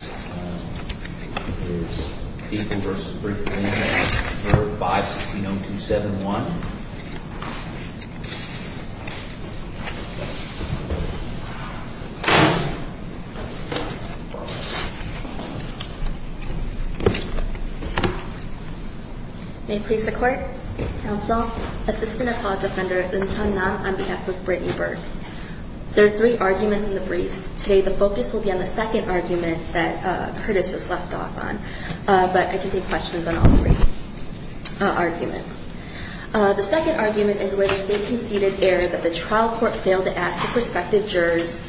There are three arguments in the briefs, today the focus will be on the second argument that Curtis just left off on, but I can take questions on all three arguments. The second argument is whether they conceded error that the trial court failed to ask the prospective jurors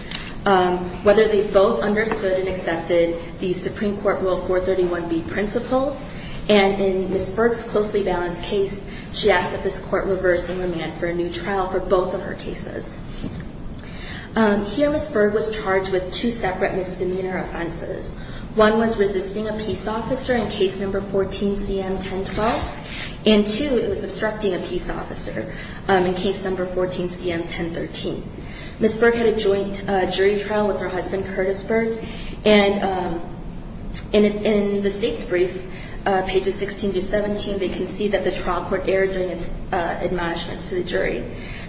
whether they both understood and accepted the Supreme Court Rule 431B principles, and in Ms. Berg's closely balanced case, she asked that this court reverse and remand for a new trial for both of her cases. Here Ms. Berg was charged with two separate misdemeanor offenses. One was resisting a peace officer in Case No. 14-CM-1012, and two, it was obstructing a peace officer in Case No. 14-CM-1013. Ms. Berg had a joint jury trial with her husband, Curtis Berg, and in the state's brief, pages 16-17, they concede that the trial court erred during its admonishments to the jury.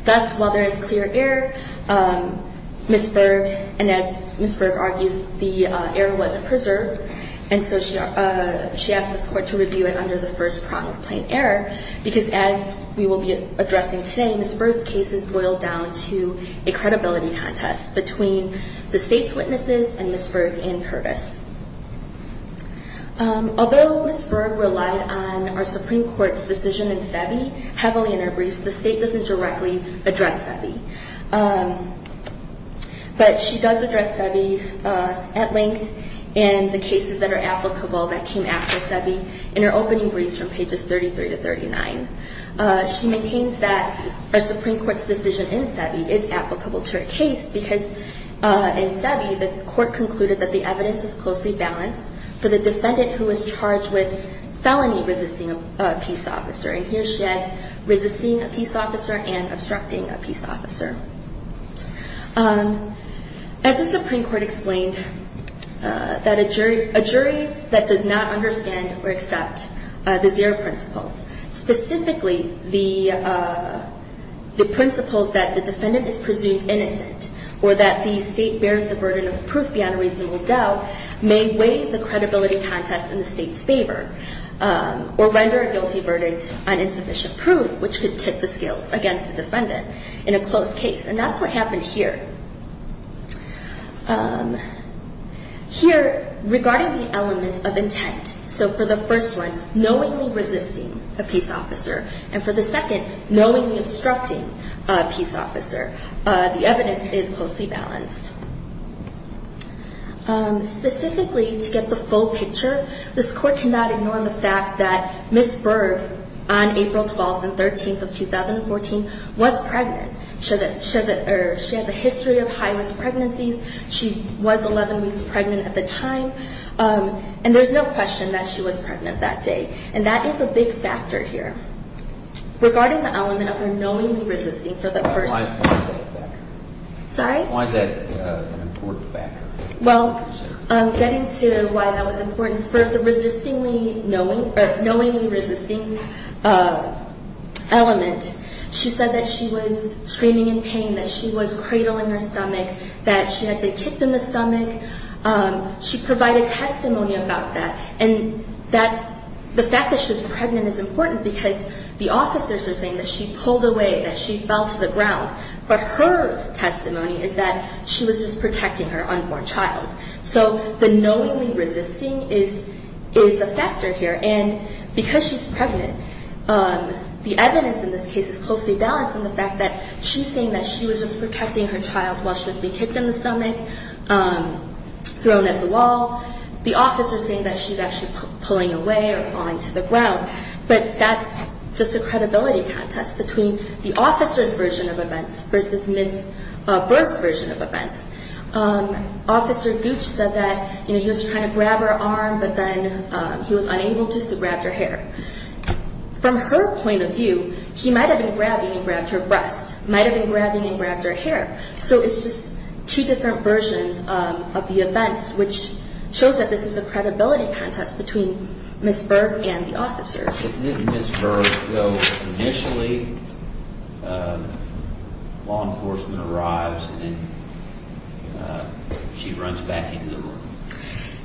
Thus, while there is clear error, Ms. Berg, and as Ms. Berg argues, the error was preserved, and so she asked this court to review it under the first prong of plain error, because as we will be addressing today, Ms. Berg's case is boiled down to a credibility contest between the state's witnesses and Ms. Berg and Curtis. Although Ms. Berg relied on our Supreme Court's decision in SEBI heavily in her briefs, the state doesn't directly address SEBI, but she does address SEBI at length in the cases that are applicable that came after SEBI in her opening briefs from pages 33-39. She maintains that our Supreme Court's decision in SEBI is applicable to her case, because in SEBI, the court concluded that the evidence was closely balanced for the defendant who was charged with felony resisting a peace officer, and here she has resisting a peace officer and obstructing a peace officer. As the Supreme Court explained, that a jury that does not understand or accept the zero principles, specifically the principles that the defendant is presumed innocent or that the state bears the burden of proof beyond a reasonable doubt, may weigh the credibility contest in the state's favor or render a guilty verdict on insufficient proof, which could tip the scales against the defendant in a closed case, and that's what happened here. Here, regarding the elements of intent, so for the first one, knowingly resisting a peace officer, and for the second, knowingly obstructing a peace officer, the evidence is closely balanced. Specifically, to get the full picture, this Court cannot ignore the fact that Ms. Berg, on April 12th and 13th of 2014, was pregnant. She has a history of high-risk pregnancies. She was 11 weeks pregnant at the time, and there's no question that she was pregnant that day, and that is a big factor here. Regarding the element of her knowingly resisting for the first... Why is that an important factor? Well, getting to why that was important, for the knowingly resisting element, she said that she was screaming in pain, that she was cradling her stomach, that she had been kicked in the stomach. She provided testimony about that, and that's... The fact that she was pregnant is important because the officers are saying that she pulled away, that she fell to the ground, but her testimony is that she was just protecting her unborn child. So the knowingly resisting is a factor here, and because she's pregnant, the evidence in this case is closely balanced in the fact that she's saying that she was just protecting her child while she was being kicked in the stomach, thrown at the wall. The officers are saying that she's actually pulling away or falling to the ground, but that's just a credibility contest between the officers' version of events versus Ms. Berg's version of events. Officer Gooch said that he was trying to grab her arm, but then he was unable to, so he grabbed her hair. From her point of view, he might have been grabbing and grabbed her breast, might have been grabbing and grabbed her hair. So it's just two different versions of the events, which shows that this is a credibility contest between Ms. Berg and the officers. But didn't Ms. Berg go initially, law enforcement arrives, and then she runs back into the room?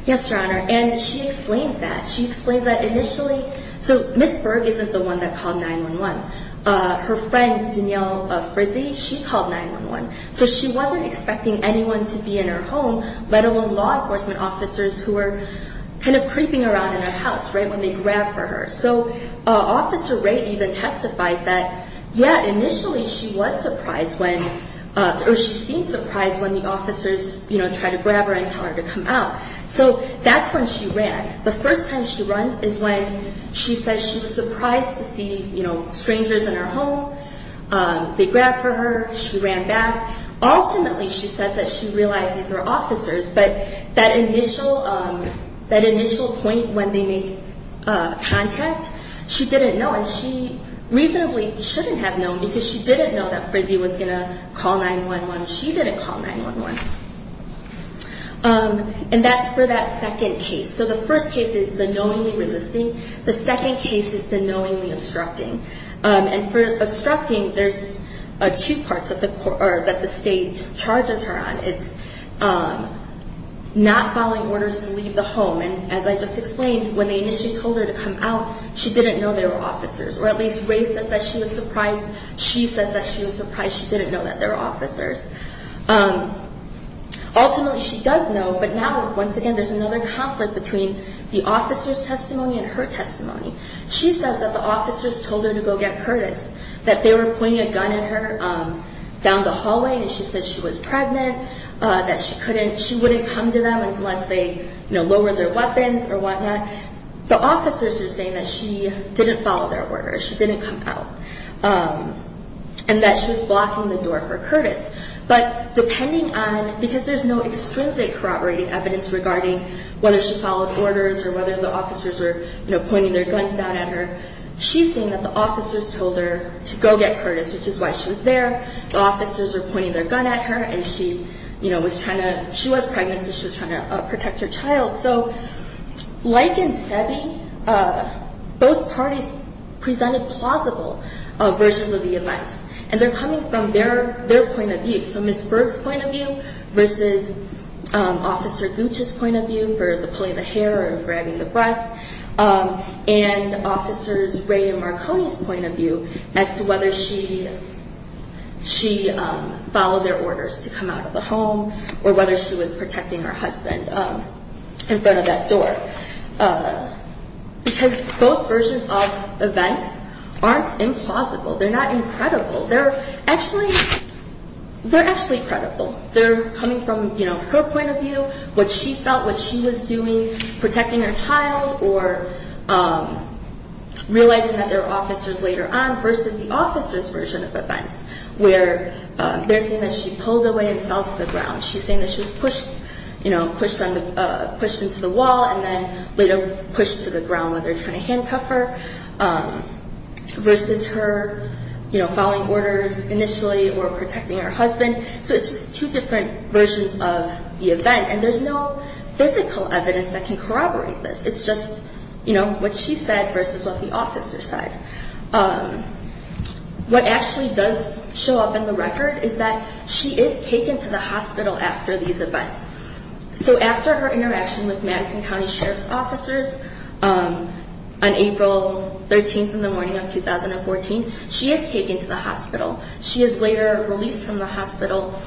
Yes, Your Honor, and she explains that. She explains that initially, so Ms. Berg isn't the one that called 911. Her friend, Danielle Frizzi, she called 911. So she wasn't expecting anyone to be in her home, let alone law enforcement officers who were kind of creeping around in her house, right, when they grabbed her. So Officer Wray even testifies that, yeah, initially she was surprised when, or she seemed surprised when the officers, you know, tried to grab her and tell her to come out. So that's when she ran. The first time she runs is when she says she was surprised to see, you know, strangers in her home. They grabbed her, she ran back. Ultimately, she says that she realized these were officers, but that initial point when they make contact, she didn't know, and she reasonably shouldn't have known because she didn't know that Frizzi was going to call 911. She didn't call 911. And that's for that second case. So the first case is the knowingly resisting. The second case is the knowingly obstructing. And for obstructing, there's two parts that the state charges her on. It's not following orders to leave the home, and as I just explained, when they initially told her to come out, she didn't know they were officers. Or at least Wray says that she was surprised. She says that she was surprised she didn't know that they were officers. Ultimately, she does know, but now, once again, there's another conflict between the officer's testimony and her testimony. She says that the officers told her to go get Curtis, that they were pointing a gun at her down the hallway, and she said she was pregnant, that she wouldn't come to them unless they, you know, lowered their weapons or whatnot. The officers are saying that she didn't follow their orders, she didn't come out, and that she was blocking the door for Curtis. But depending on, because there's no extrinsic corroborating evidence regarding whether she followed orders or whether the officers were, you know, pointing their guns down at her, she's saying that the officers told her to go get Curtis, which is why she was there. The officers were pointing their gun at her, and she, you know, was trying to, she was pregnant, so she was trying to protect her child. So like in Sebi, both parties presented plausible versions of the events, and they're coming from their point of view. So Ms. Berg's point of view versus Officer Gooch's point of view for the pulling the hair or grabbing the breasts, and Officers Ray and Marconi's point of view as to whether she followed their orders to come out of the home or whether she was protecting her husband in front of that door. Because both versions of events aren't implausible. They're not incredible. They're actually, they're actually credible. They're coming from, you know, her point of view, what she felt, what she was doing, protecting her child or realizing that there were officers later on versus the officers' version of events where they're saying that she pulled away and fell to the ground. She's saying that she was pushed, you know, pushed into the wall and then later pushed to the ground where they're trying to handcuff her versus her, you know, following orders initially or protecting her husband. So it's just two different versions of the event, and there's no physical evidence that can corroborate this. It's just, you know, what she said versus what the officers said. What actually does show up in the record is that she is taken to the hospital after these events. So after her interaction with Madison County Sheriff's officers on April 13th in the morning of 2014, she is taken to the hospital. She is later released from the hospital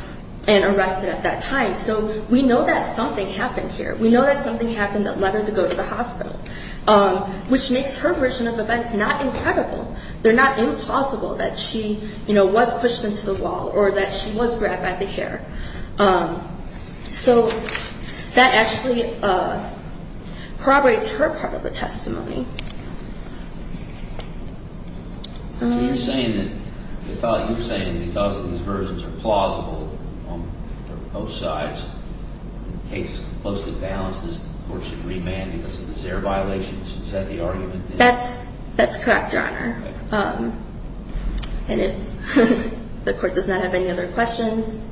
and arrested at that time. So we know that something happened here. We know that something happened that led her to go to the hospital, which makes her version of events not incredible. They're not implausible that she, you know, was pushed into the wall or that she was grabbed by the hair. So that actually corroborates her part of the testimony. That's correct, Your Honor. And if the Court does not have any other questions,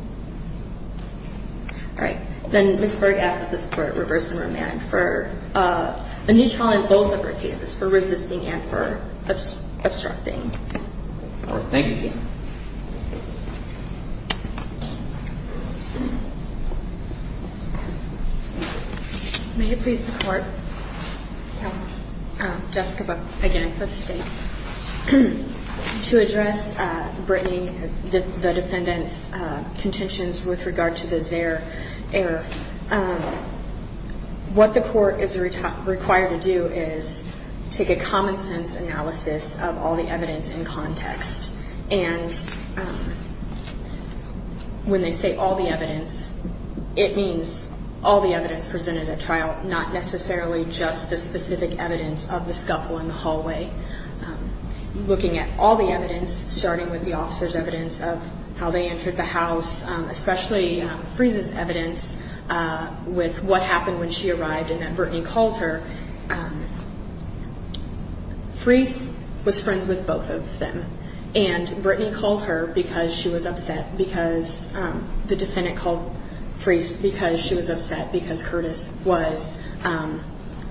all right, then Ms. Berg asks that this Court reverse the remand for a neutral in both of her cases for resisting and for obstructing. All right. Thank you. May it please the Court? Yes. Jessica Buck again for the State. To address Brittany, the defendant's contentions with regard to the Zaire error, what the Court is required to do is take a common-sense analysis of all the evidence in context. And when they say all the evidence, it means all the evidence presented at trial, not necessarily just the specific evidence of the scuffle in the hallway. Looking at all the evidence, starting with the officer's evidence of how they entered the house, especially Freese's evidence with what happened when she arrived and that Brittany called her, Freese was friends with both of them. And Brittany called her because she was upset because the defendant called Freese because she was upset because Curtis was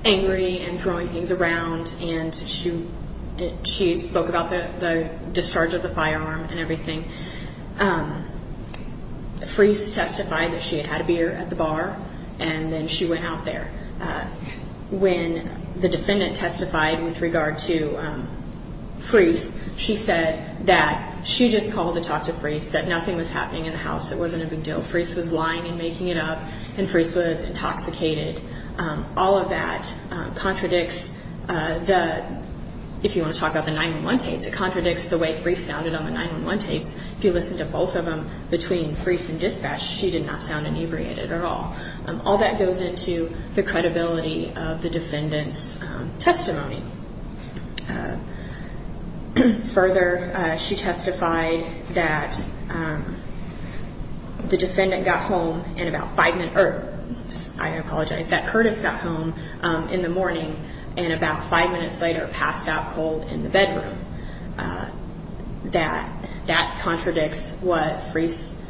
angry and throwing things around and she spoke about the discharge of the firearm and everything. Freese testified that she had had a beer at the bar and then she went out there. When the defendant testified with regard to Freese, she said that she just called to talk to Freese, that nothing was happening in the house, it wasn't a big deal. Freese was lying and making it up and Freese was intoxicated. All of that contradicts the, if you want to talk about the 9-1-1 tapes, it contradicts the way Freese sounded on the 9-1-1 tapes. If you listen to both of them between Freese and dispatch, she did not sound inebriated at all. All that goes into the credibility of the defendant's testimony. Further, she testified that the defendant got home in about 5 minutes, I apologize, that Curtis got home in the morning and about 5 minutes later passed out cold in the bedroom. That contradicts what Freese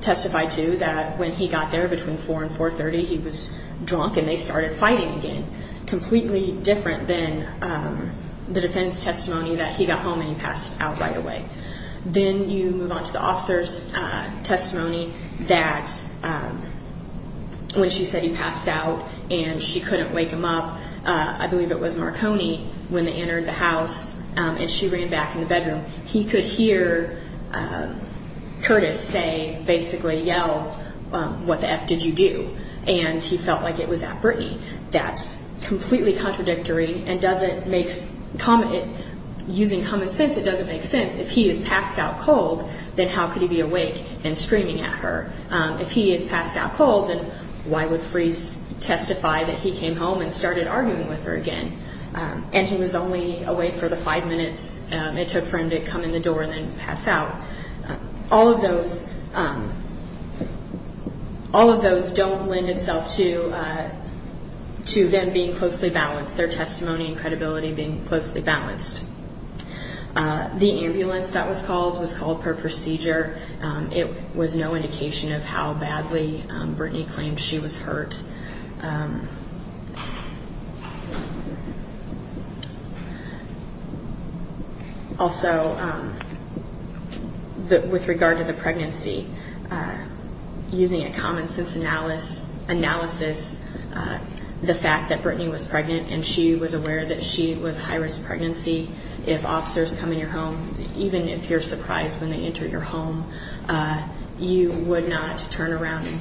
testified to, that when he got there between 4 and 4.30 he was drunk and they started fighting again. That's completely different than the defense testimony that he got home and he passed out right away. Then you move on to the officer's testimony that when she said he passed out and she couldn't wake him up, I believe it was Marconi, when they entered the house and she ran back in the bedroom, he could hear Curtis say, basically yell, what the F did you do? And he felt like it was at Brittany. That's completely contradictory and doesn't make, using common sense, it doesn't make sense. If he is passed out cold, then how could he be awake and screaming at her? If he is passed out cold, then why would Freese testify that he came home and started arguing with her again? And he was only awake for the 5 minutes it took for him to come in the door and then pass out. All of those don't lend itself to them being closely balanced, their testimony and credibility being closely balanced. The ambulance that was called was called per procedure. It was no indication of how badly Brittany claimed she was hurt. Also, with regard to the pregnancy, using a common sense analysis, the fact that Brittany was pregnant and she was aware that she was high-risk pregnancy, if officers come in your home, even if you're surprised when they enter your home, you would not turn around and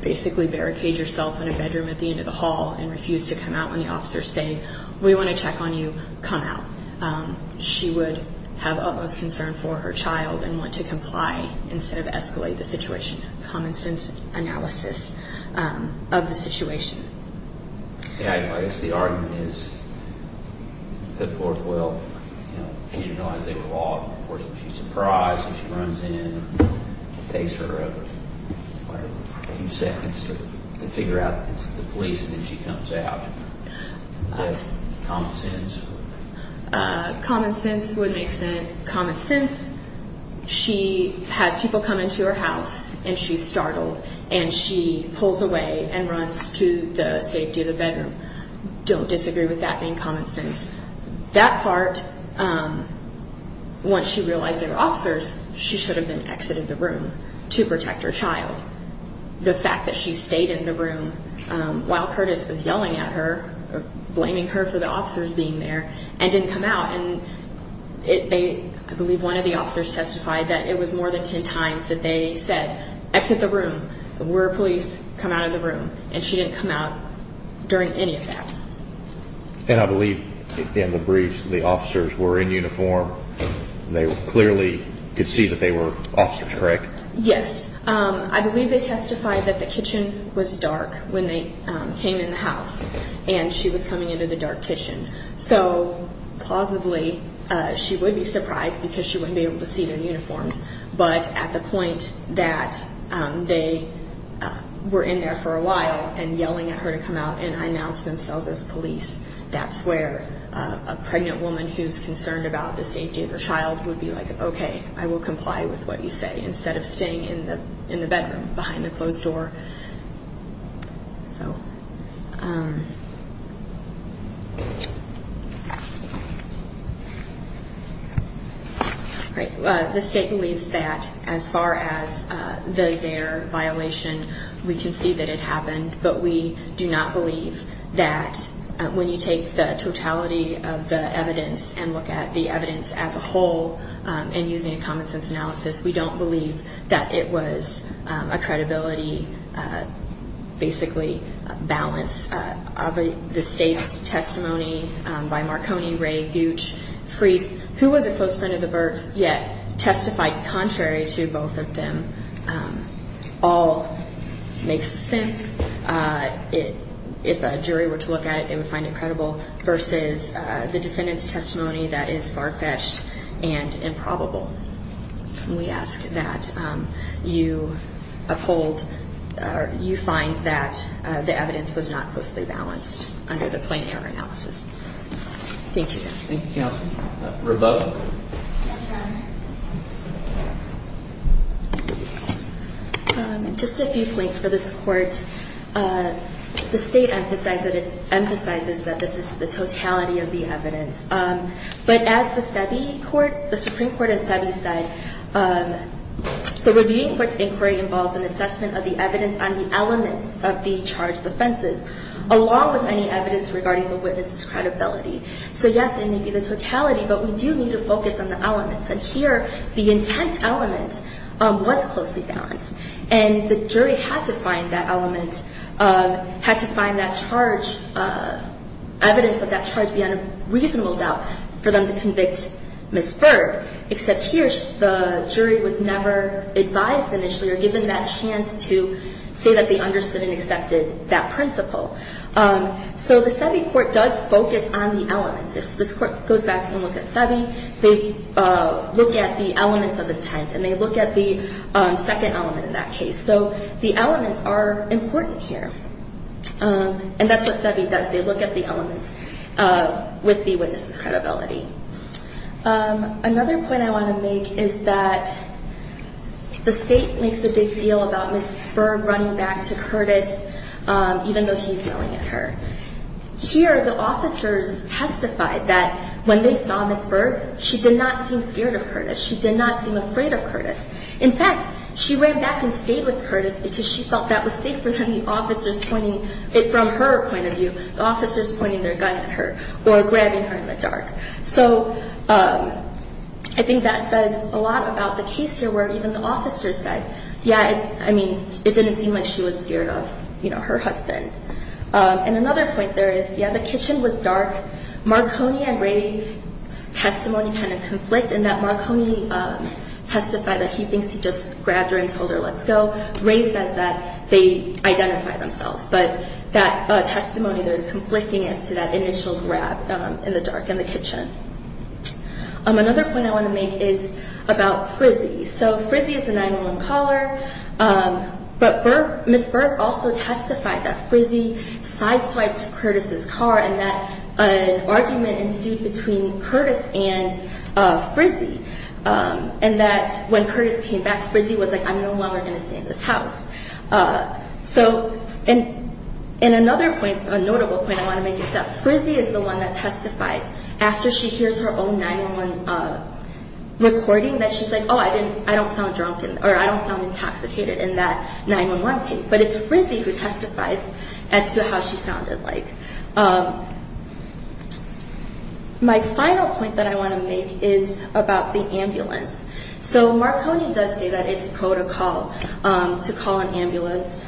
basically barricade yourself in a bedroom at the end of the hall and refuse to come out when the officers say, we want to check on you, come out. She would have utmost concern for her child and want to comply instead of escalate the situation. Common sense analysis of the situation. I guess the argument is put forth well. She didn't realize they were law enforcement. She's surprised when she runs in. It takes her a few seconds to figure out that it's the police and then she comes out. Common sense. Common sense would make sense. Common sense. She has people come into her house and she's startled and she pulls away and runs to the safety of the bedroom. Don't disagree with that being common sense. That part, once she realized they were officers, she should have then exited the room to protect her child. The fact that she stayed in the room while Curtis was yelling at her, blaming her for the officers being there, and didn't come out. I believe one of the officers testified that it was more than 10 times that they said, exit the room, we're police, come out of the room, and she didn't come out during any of that. I believe in the briefs the officers were in uniform. They clearly could see that they were officers, correct? Yes. I believe they testified that the kitchen was dark when they came in the house and she was coming into the dark kitchen. So, plausibly, she would be surprised because she wouldn't be able to see their uniforms. But at the point that they were in there for a while and yelling at her to come out and announce themselves as police, that's where a pregnant woman who's concerned about the safety of her child would be like, okay, I will comply with what you say, instead of staying in the bedroom behind the closed door. The state believes that as far as the Zaire violation, we can see that it happened, but we do not believe that when you take the totality of the evidence and look at the evidence as a whole and using a common sense analysis, we don't believe that it was a credibility, basically, balance. The state's testimony by Marconi, Ray, Gooch, Freese, who was a close friend of the Berg's yet testified contrary to both of them, all makes sense. If a jury were to look at it, they would find it credible versus the defendant's testimony that is far-fetched and improbable. We ask that you find that the evidence was not closely balanced under the plain error analysis. Thank you. Thank you, Counsel. Rebecca? Yes, Your Honor. Just a few points for this Court. The state emphasizes that this is the totality of the evidence, but as the Supreme Court and SEBI said, the Reviewing Court's inquiry involves an assessment of the evidence on the elements of the charged offenses, along with any evidence regarding the witness's credibility. So, yes, it may be the totality, but we do need to focus on the elements. And here, the intent element was closely balanced, and the jury had to find that element, had to find that charge, evidence of that charge beyond a reasonable doubt for them to convict Ms. Berg. Except here, the jury was never advised initially or given that chance to say that they understood and accepted that principle. So the SEBI Court does focus on the elements. If this Court goes back and looks at SEBI, they look at the elements of intent, and they look at the second element in that case. So the elements are important here, and that's what SEBI does. They look at the elements with the witness's credibility. Another point I want to make is that the state makes a big deal about Ms. Berg running back to Curtis, even though he's yelling at her. Here, the officers testified that when they saw Ms. Berg, she did not seem scared of Curtis. She did not seem afraid of Curtis. In fact, she ran back and stayed with Curtis because she felt that was safer than the officers pointing, from her point of view, the officers pointing their gun at her or grabbing her in the dark. So I think that says a lot about the case here where even the officers said, yeah, I mean, it didn't seem like she was scared of, you know, her husband. And another point there is, yeah, the kitchen was dark. Marconi and Ray's testimony kind of conflict, in that Marconi testified that he thinks he just grabbed her and told her, let's go. Ray says that they identified themselves. But that testimony there is conflicting as to that initial grab in the dark in the kitchen. Another point I want to make is about Frizzy. So Frizzy is a 911 caller, but Ms. Berg also testified that Frizzy sideswiped Curtis' car and that an argument ensued between Curtis and Frizzy, and that when Curtis came back, Frizzy was like, I'm no longer going to stay in this house. So, and another point, a notable point I want to make is that Frizzy is the one that testifies. After she hears her own 911 recording, that she's like, oh, I don't sound drunk, or I don't sound intoxicated in that 911 tape. But it's Frizzy who testifies as to how she sounded like. My final point that I want to make is about the ambulance. So Marconi does say that it's protocol to call an ambulance,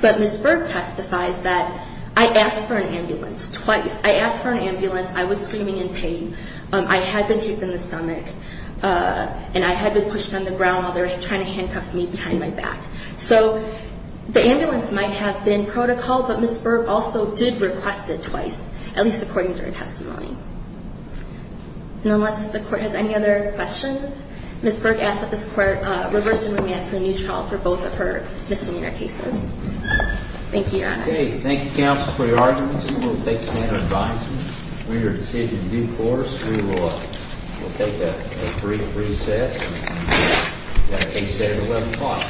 but Ms. Berg testifies that I asked for an ambulance twice. I asked for an ambulance. I was screaming in pain. I had been hit in the stomach, and I had been pushed on the ground while they were trying to handcuff me behind my back. So the ambulance might have been protocol, but Ms. Berg also did request it twice, at least according to her testimony. And unless the Court has any other questions, Ms. Berg asks that this Court reverse the remand for a new trial for both of her misdemeanor cases. Thank you, Your Honor. Okay. Thank you, counsel, for your arguments. We will take some further advisement. When you're seated in due course, we will take a brief recess, and that will be set at 11 o'clock.